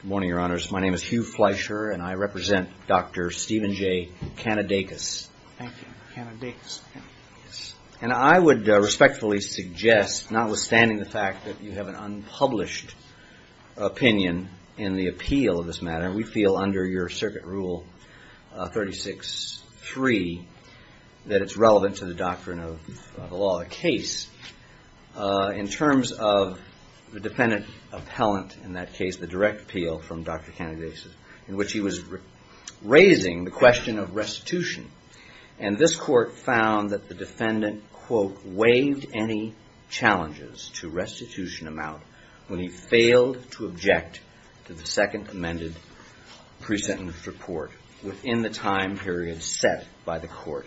Good morning, your honors. My name is Hugh Fleischer and I represent Dr. Stephen J. Kaniadakis. And I would respectfully suggest, notwithstanding the fact that you have an unpublished opinion in the appeal of this matter, we feel under your circuit rule 36-3 that it's relevant to the doctrine of the law, the case, in terms of the defendant appellant in that case, the direct appeal from Dr. Kaniadakis, in which he was raising the question of restitution. And this court found that the defendant, quote, waived any challenges to restitution amount when he failed to object to the second amended pre-sentence report within the time period set by the court,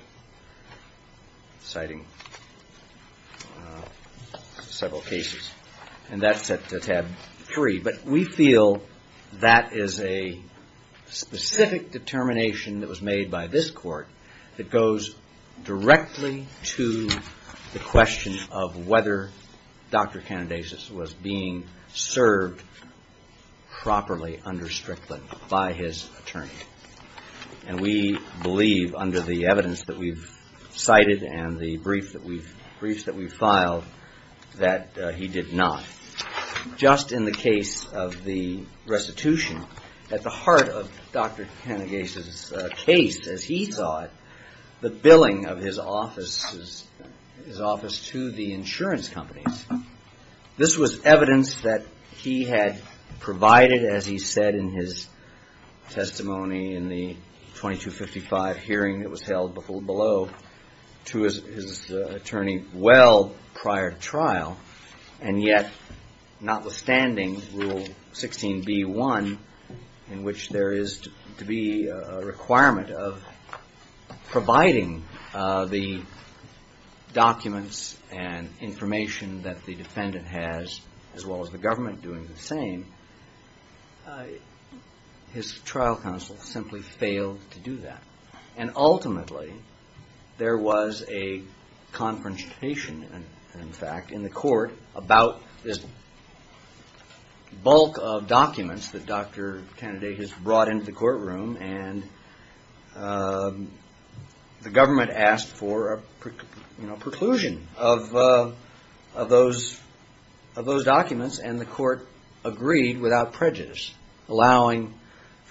citing several cases. And that's at tab 3. But we feel that is a specific determination that was made by this court that goes directly to the question of whether Dr. Kaniadakis was being served properly under Strickland by his attorney. And we believe under the evidence that we've cited and the briefs that we've filed, that he did not. Just in the case of the restitution, at the heart of Dr. Kaniadakis' case, as he thought, the billing of his office to the insurance companies. This was evidence that he had provided, as he said in his testimony in the 2255 hearing that was held below, to his attorney well prior to trial. And yet, notwithstanding Rule 16b-1, in which there is to be a requirement of providing the documents and information that the defendant has, as well as the government doing the same, his trial counsel simply failed to do that. And ultimately, there was a confrontation, in fact, in the court about this bulk of documents that Dr. Kaniadakis brought into the courtroom and the government asked for a preclusion of those documents and the court agreed without prejudice, allowing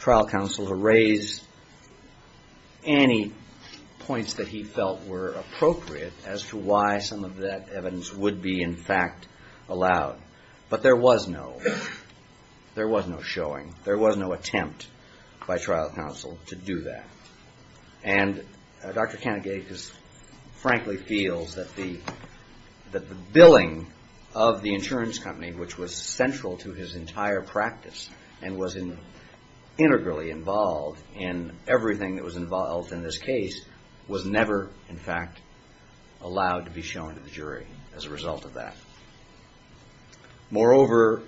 trial counsel to raise any points that he felt were appropriate as to why some of that evidence would be, in fact, allowed. But there was no showing. There was no trial counsel to do that. And Dr. Kaniadakis, frankly, feels that the billing of the insurance company, which was central to his entire practice and was integrally involved in everything that was involved in this case, was never, in fact, allowed to be shown to the jury as a result of that. Moreover,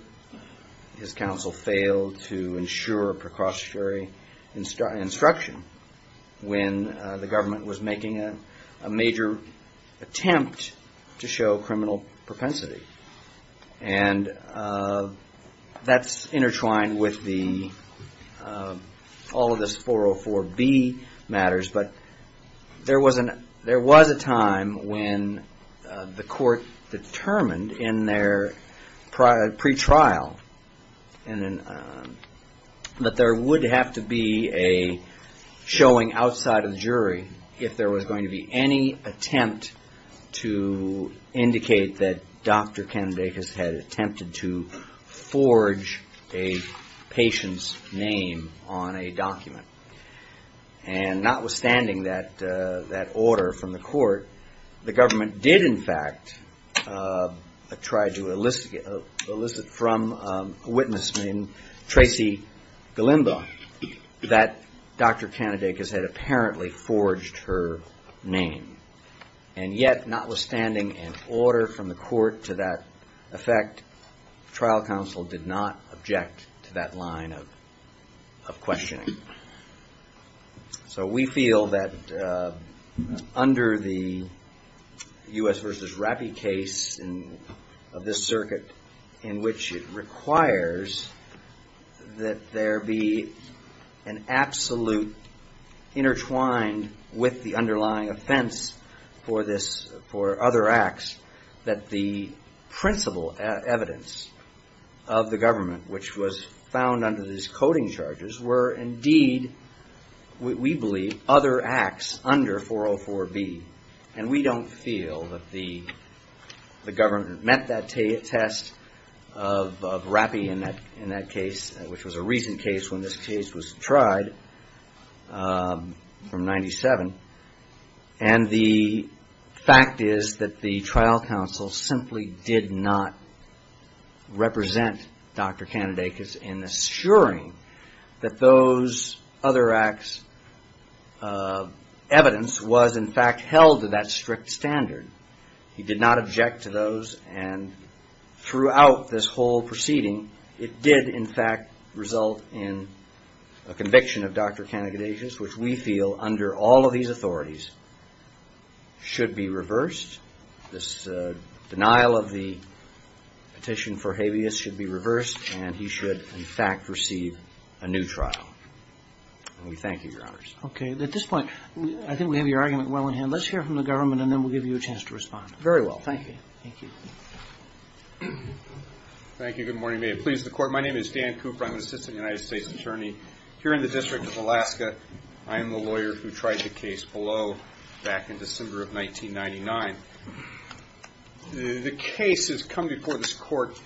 his counsel failed to ensure a precautionary instruction when the government was making a major attempt to show criminal propensity. And that's intertwined with all of this 404B matters, but there was a time when the court made a showing outside of the jury if there was going to be any attempt to indicate that Dr. Kaniadakis had attempted to forge a patient's name on a document. And notwithstanding that order from the court, the government did, in fact, try to elicit from a witness named that Dr. Kaniadakis had apparently forged her name. And yet, notwithstanding an order from the court to that effect, trial counsel did not object to that line of questioning. So we feel that under the U.S. v. Rappi case of this circuit, in which it requires that there be an absolute intertwined with the underlying offense for this, for other acts, that the principal evidence of the government, which was found under these coding charges, were indeed, we believe, other acts under 404B. And we don't feel that the government met that test of Rappi in that case, which was a recent case when this case was tried from 97. And the fact is that the trial counsel simply did not represent Dr. Kaniadakis in assuring that those other acts' evidence was, in fact, held to that strict standard. He did not object to those. And throughout this whole proceeding, it did, in fact, result in a conviction of Dr. Kaniadakis, which we feel, under all of these authorities, should be reversed. This denial of the petition for habeas should be reversed, and he should, in fact, receive a new trial. And we thank you, Your Honors. Okay. At this point, I think we have your argument well in hand. Let's hear from the government, and then we'll give you a chance to respond. Very well. Thank you. Thank you. Thank you. Good morning. May it please the Court. My name is Dan Cooper. I'm an assistant United States attorney here in the District of Alaska. I am the lawyer who tried the case below back in December of 1999. The case has come before this Court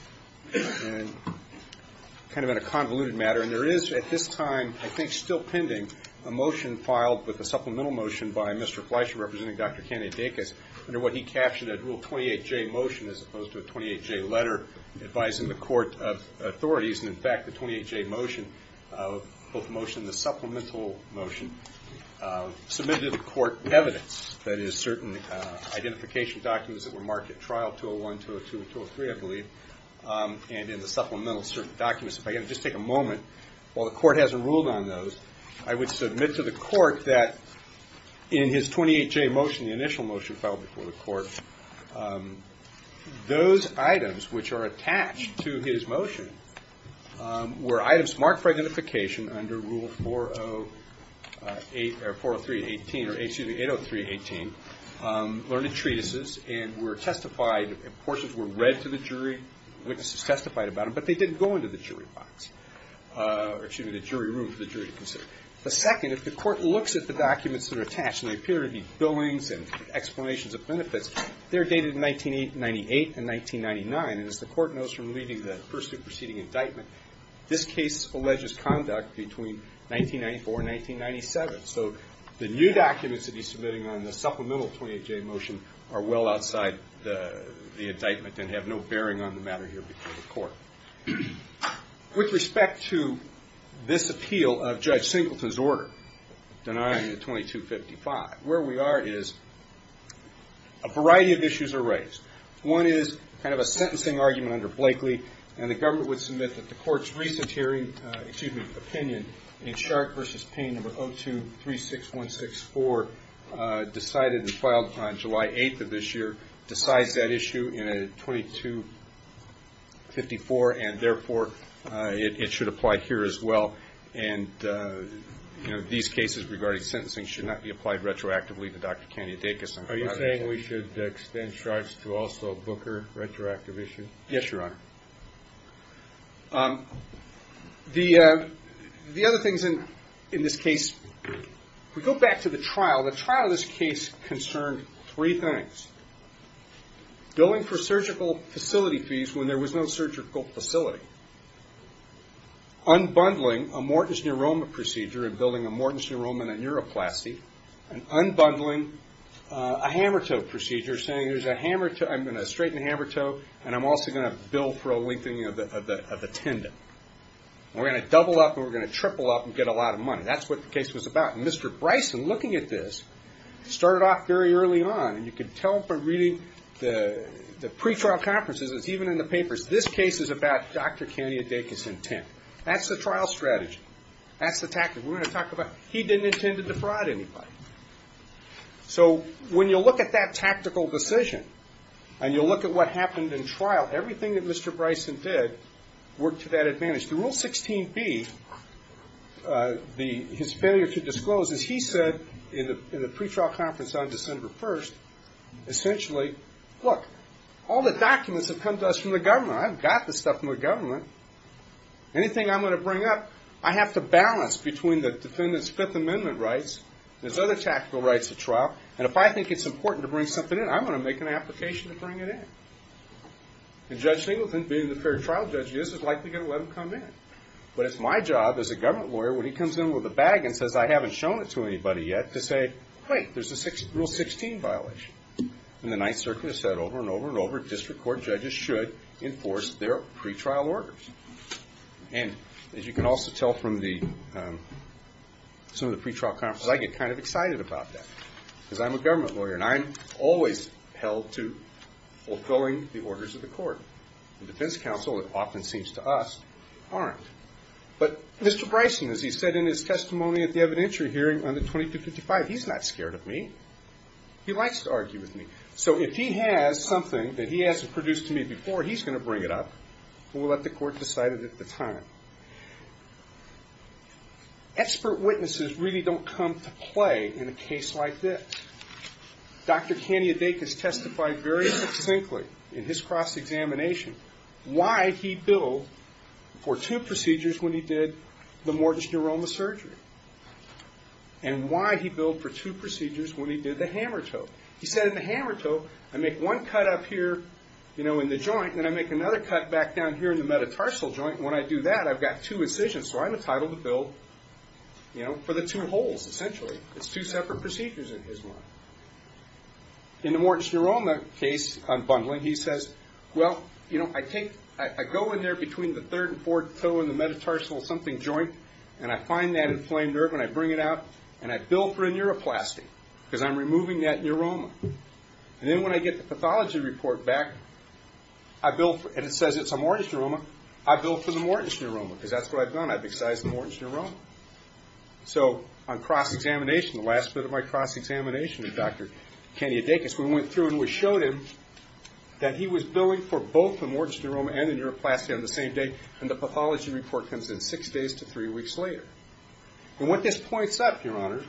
kind of in a convoluted manner, and there is, at this time, I think still pending, a motion filed with a supplemental motion by Mr. Fleisher, representing Dr. Kaniadakis, under what he captioned a Rule 28J motion as opposed to a 28J letter advising the Court of Authorities. And, in fact, the 28J motion, both the motion and the supplemental motion, submitted to the Court evidence, that is, certain identification documents that were marked at Trial 201, 202, and 203, I believe, and in the supplemental certain documents. If I can just take a moment, while the Court hasn't ruled on those, I would submit to the Court that the 28J motion, the initial motion filed before the Court, those items which are attached to his motion were items marked for identification under Rule 403.18 or 803.18, learned in treatises and were testified, portions were read to the jury, witnesses testified about them, but they didn't go into the jury box, or, excuse me, the jury room for the jury to consider. The second, if the Court looks at the documents that are attached, and they appear to be billings and explanations of benefits, they're dated in 1998 and 1999, and as the Court knows from reading the pursuant proceeding indictment, this case alleges conduct between 1994 and 1997. So the new documents that he's submitting on the supplemental 28J motion are well outside the indictment and have no bearing on the matter here before the Court. With respect to this appeal of Judge Singleton's order, denying a 2255, where we are is a variety of issues are raised. One is kind of a sentencing argument under Blakely, and the Government would submit that the Court's recent hearing, excuse me, opinion in Sharp v. Payne No. 0236164 decided and filed on July 8th of this year, decides that issue in a 2254, and therefore it should apply here as well, and these cases regarding sentencing should not be applied retroactively to Dr. Kanye Dacus. Are you saying we should extend charge to also Booker retroactive issue? Yes, Your Honor. The other things in this case, if we go back to the trial, the trial in this case concerned three things. Going for surgical facility fees when there was no surgical facility, unbundling a Morton's neuroma procedure and building a Morton's neuroma and a neuroplasty, and unbundling a hammertoe procedure, saying there's a straightened hammertoe and I'm also going to bill for a lengthening of the tendon. We're going to double up and we're going to triple up and get a lot of money. That's what the case was about. And Mr. Bryson, looking at this, started off very early on, and you can tell from reading the pre-trial conferences, it's even in the papers, this case is about Dr. Kanye Dacus' intent. That's the trial strategy. That's the tactic. We're going to talk about he didn't intend to defraud anybody. So when you look at that tactical decision and you look at what happened in trial, everything that Mr. Bryson did worked to that advantage. The Rule 16B, his failure to disclose, as he said in the pre-trial conference on December 1st, essentially, look, all the documents have come to us from the government. I've got the stuff from the government. Anything I'm going to bring up, I have to balance between the defendant's Fifth Amendment rights and his other tactical rights at trial, and if I think it's important to bring something in, I'm going to make an application to bring it in. And Judge Singleton, being the fair trial judge, is likely going to let him come in. But it's my job as a government lawyer, when he comes in with a bag and says, I haven't shown it to anybody yet, to say, wait, there's a Rule 16 violation. And the Ninth Circuit has said over and over and over, district court judges should enforce their pre-trial orders. And as you can also tell from the some of the pre-trial conferences, I get kind of excited about that, because I'm a government lawyer, and I'm always held to fulfilling the orders of the court. The defense counsel, it often seems to us, aren't. But Mr. Bryson, as he said in his testimony at the evidentiary hearing on the 2255, he's not scared of me. He likes to argue with me. So if he has something that he hasn't produced to me before, he's going to bring it up, and we'll let the court decide it at the time. Expert witnesses really don't come to play in a case like this. Dr. McCannia-Dakis testified very succinctly in his cross-examination why he billed for two procedures when he did the mortis neuroma surgery, and why he billed for two procedures when he did the hammer toe. He said in the hammer toe, I make one cut up here in the joint, and then I make another cut back down here in the metatarsal joint. And when I do that, I've got two incisions. So I'm entitled to bill for the two holes, essentially. It's two separate procedures in his mind. In the mortis neuroma case, on bundling, he says, well, I go in there between the third and fourth toe in the metatarsal something joint, and I find that inflamed nerve, and I bring it out, and I bill for a neuroplasty, because I'm removing that neuroma. And then when I get the pathology report back, and it says it's a mortis neuroma, I bill for the mortis neuroma, because that's what I've done. I've done the last bit of my cross-examination with Dr. Candia Dacus. We went through and we showed him that he was billing for both the mortis neuroma and the neuroplasty on the same day, and the pathology report comes in six days to three weeks later. And what this points up, Your Honor,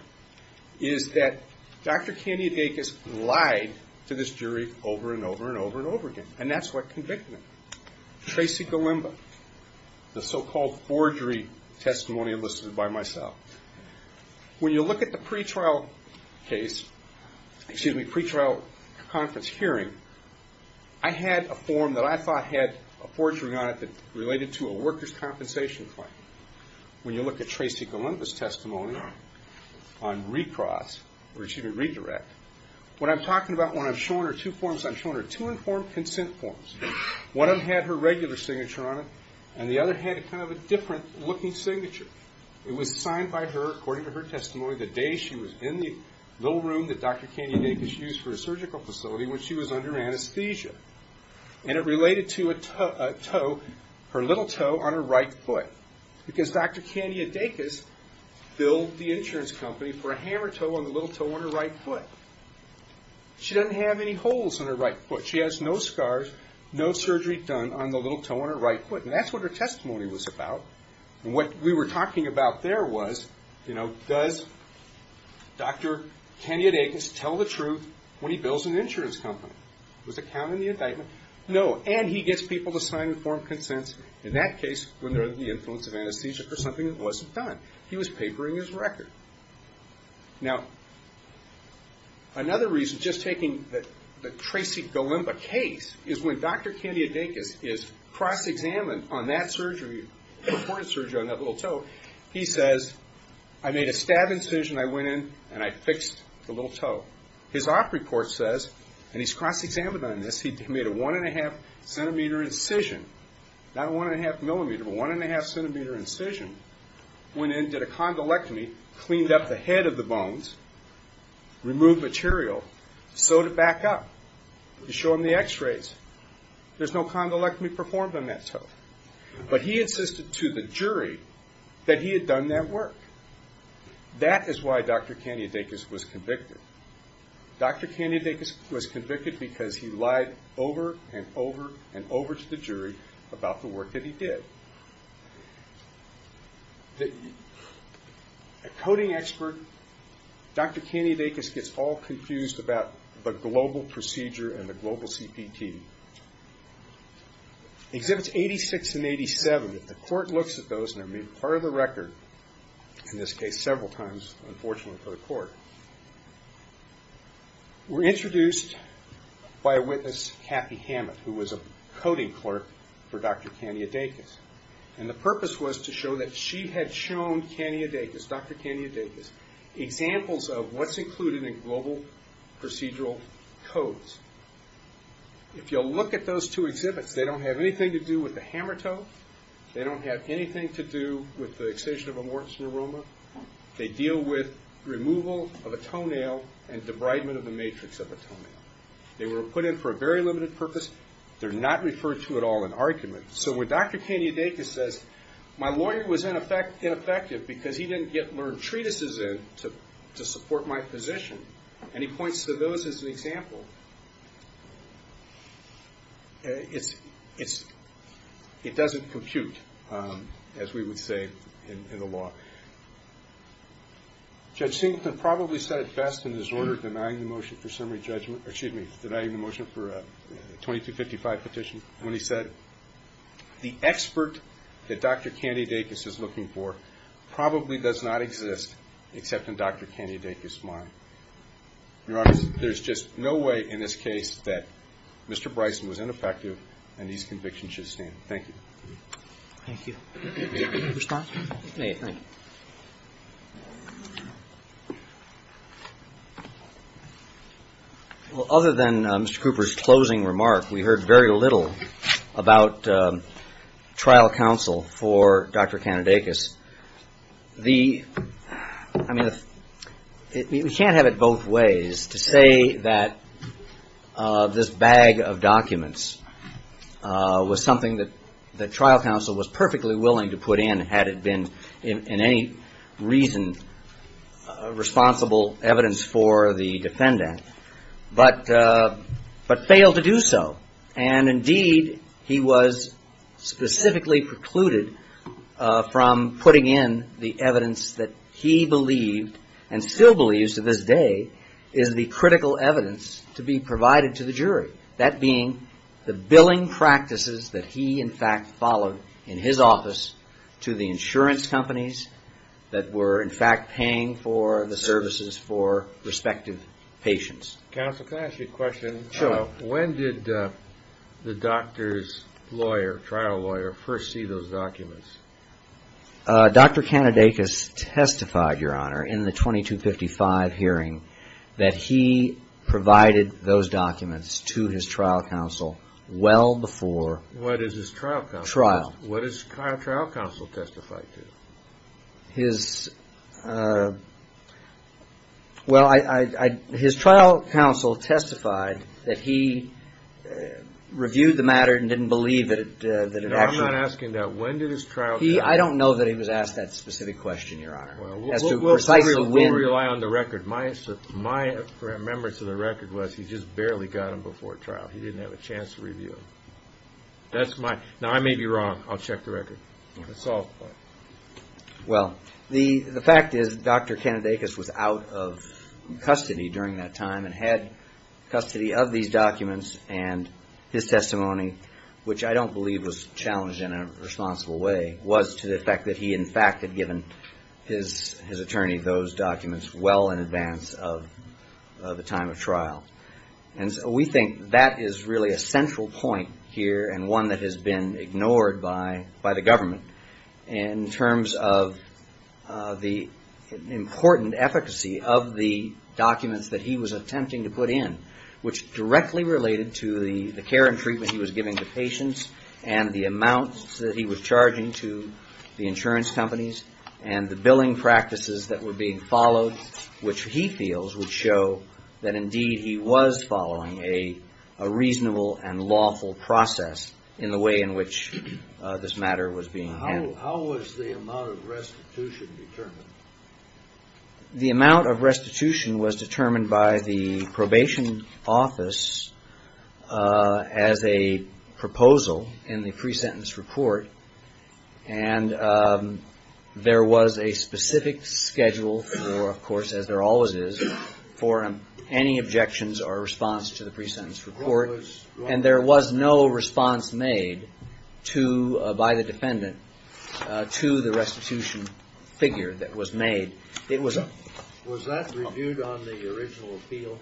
is that Dr. Candia Dacus lied to this jury over and over and over and over again, and that's what convicted him. Tracy Golimba, the so-called forgery testimony enlisted by myself. When you look at the pretrial case, excuse me, pretrial conference hearing, I had a form that I thought had a forgery on it that related to a worker's compensation claim. When you look at Tracy Golimba's testimony on recross, or excuse me, redirect, what I'm talking about when I'm showing her two forms, I'm showing her two informed consent forms. One of them had her regular signature on it, and the other had kind of a different looking signature. It was signed by her, according to her testimony, the day she was in the little room that Dr. Candia Dacus used for a surgical facility when she was under anesthesia. And it related to a toe, her little toe on her right foot. Because Dr. Candia Dacus billed the insurance company for a hammer toe on the little toe on her right foot. She doesn't have any holes on her right foot. She has no scars, no surgery done on the little toe on her right foot. And that's what her testimony was about. And what we were talking about there was, you know, does Dr. Candia Dacus tell the truth when he bills an insurance company? Was it counting the indictment? No. And he gets people to sign informed consents, in that case, when they're under the influence of anesthesia for something that wasn't done. He was papering his record. Now, another reason, just taking the Tracy Golemba case, is when Dr. Candia Dacus is cross-examined on that surgery, reported surgery on that little toe, he says, I made a stab incision, I went in and I fixed the little toe. His op report says, and he's cross-examined on this, he made a one and a half centimeter incision. Not a one and a half millimeter, but one and a half centimeter incision. Went in, did a condolectomy, cleaned up the head of the bones, removed material, sewed it back up to show him the x-rays. There's no condolectomy performed on that toe. But he insisted to the jury that he had done that work. That is why Dr. Candia Dacus was convicted. Dr. Candia Dacus was convicted because he lied over and over and over to the jury about the work that he did. A coding expert, Dr. Candia Dacus gets all confused about the global procedure and the global CPT. Exhibits 86 and 87, if the court looks at those and they're made part of the record, in this case several times, unfortunately for the court, were introduced by a witness Kathy Hammett, who was a coding clerk for Dr. Candia Dacus. And the purpose was to show that she had shown Candia Dacus, Dr. Candia Dacus, examples of what's included in global procedural codes. If you'll look at those two exhibits, they don't have anything to do with the hammer toe. They don't have anything to do with the extension of a Morton's neuroma. They deal with removal of a toenail and debridement of the matrix of a toenail. They were put in for a very limited purpose. They're not referred to at all in argument. So when Dr. Candia Dacus says, my lawyer was ineffective because he didn't get learned treatises in to support my position, and he points to those as an example, it doesn't compute, as we would say in the law. Judge Singleton probably said it best in his order denying the motion for a 2255 petition, when he said, the expert that Dr. Candia Dacus is looking for probably does not exist except in Dr. Candia Dacus's mind. Your Honor, there's just no way in this case that Mr. Bryson was ineffective and his conviction should stand. Thank you. Thank you. Any response? Well, other than Mr. Cooper's closing remark, we heard very little about trial counsel for Dr. Candia Dacus. We can't have it both ways to say that this bag of documents was something that trial counsel was perfectly willing to put in, had it been in any reason responsible evidence for the defendant, but failed to do so. And indeed, he was specifically precluded from putting in the evidence that he believed, and still believes to this day, is the critical evidence to be provided to the jury. That being, the billing practices that he, in fact, followed in his office to the insurance companies that were, in fact, paying for the services for respective patients. Counsel, can I ask you a question? Sure. When did the doctor's lawyer, trial lawyer, first see those documents? Dr. Candia Dacus testified, your honor, in the 2255 hearing that he provided those documents to his trial counsel well before... What is his trial counsel? What his trial counsel testified to? His, well, his trial counsel testified that he reviewed the matter and didn't believe that it actually... I'm asking that, when did his trial counsel... I don't know that he was asked that specific question, your honor, as to precisely when... We'll rely on the record. My remembrance of the record was he just barely got them before trial. He didn't have a chance to review them. That's my... Now, I may be wrong. I'll check the record. It's all... Well, the fact is Dr. Candia Dacus was out of custody during that time, and had custody of these documents and his testimony, which I don't believe was challenged in a responsible way, was to the effect that he, in fact, had given his attorney those documents well in advance of the time of trial. And so we think that is really a central point here and one that has been ignored by the government in terms of the important efficacy of the documents that he was attempting to put in, which directly related to the care and treatment he was giving to patients and the amounts that he was charging to the insurance companies and the billing practices that were being followed, which he feels would show that, indeed, he was following a reasonable and lawful process in the way in which this matter was being handled. How was the amount of restitution determined? The amount of restitution was determined by the probation office as a proposal in the pre-sentence report, and there was a specific schedule for, of course, as there always is, for any objections or response to the pre-sentence report, and there was no response made to, by the defendant, to the restitution figure that was made. Was that reviewed on the original appeal?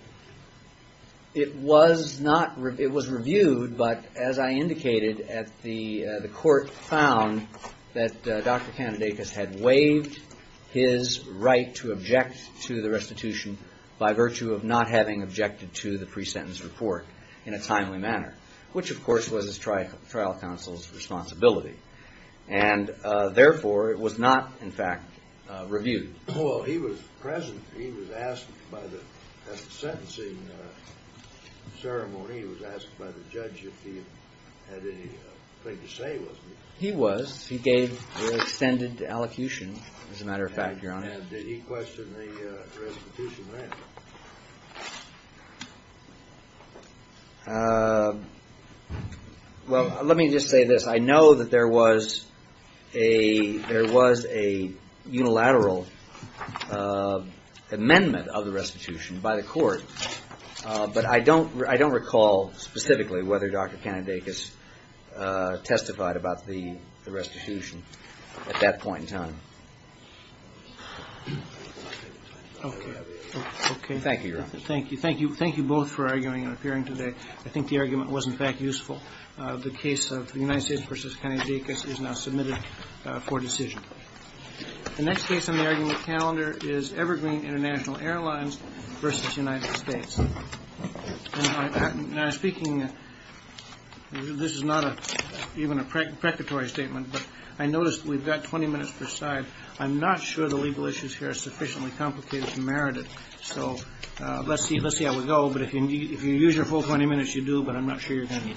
It was reviewed, but as I indicated, the court found that Dr. Kanedakis had waived his right to object to the restitution by virtue of not having objected to the pre-sentence report in a timely manner, which, of course, was his trial counsel's responsibility, and therefore it was not, in fact, reviewed. Well, he was present. He was asked by the, at the sentencing ceremony, he was asked by the judge if he had anything to say, wasn't he? He was. He gave the extended allocution, as a matter of fact, Your Honor. And did he question the restitution then? Well, let me just say this. I know that there was a unilateral amendment of the restitution by the court, but I don't recall specifically whether Dr. Kanedakis testified about the restitution. Okay. Okay. Thank you, Your Honor. Thank you. Thank you. Thank you both for arguing and appearing today. I think the argument was, in fact, useful. The case of the United States v. Kanedakis is now submitted for decision. The next case on the argument calendar is Evergreen International Airlines v. United States. And I'm speaking, this is not even a precatory statement, but I noticed we've got 20 minutes per side. I'm not sure the legal issues here are sufficiently complicated to merit it. So let's see how we go. But if you use your full 20 minutes, you do, but I'm not sure you're going to need them.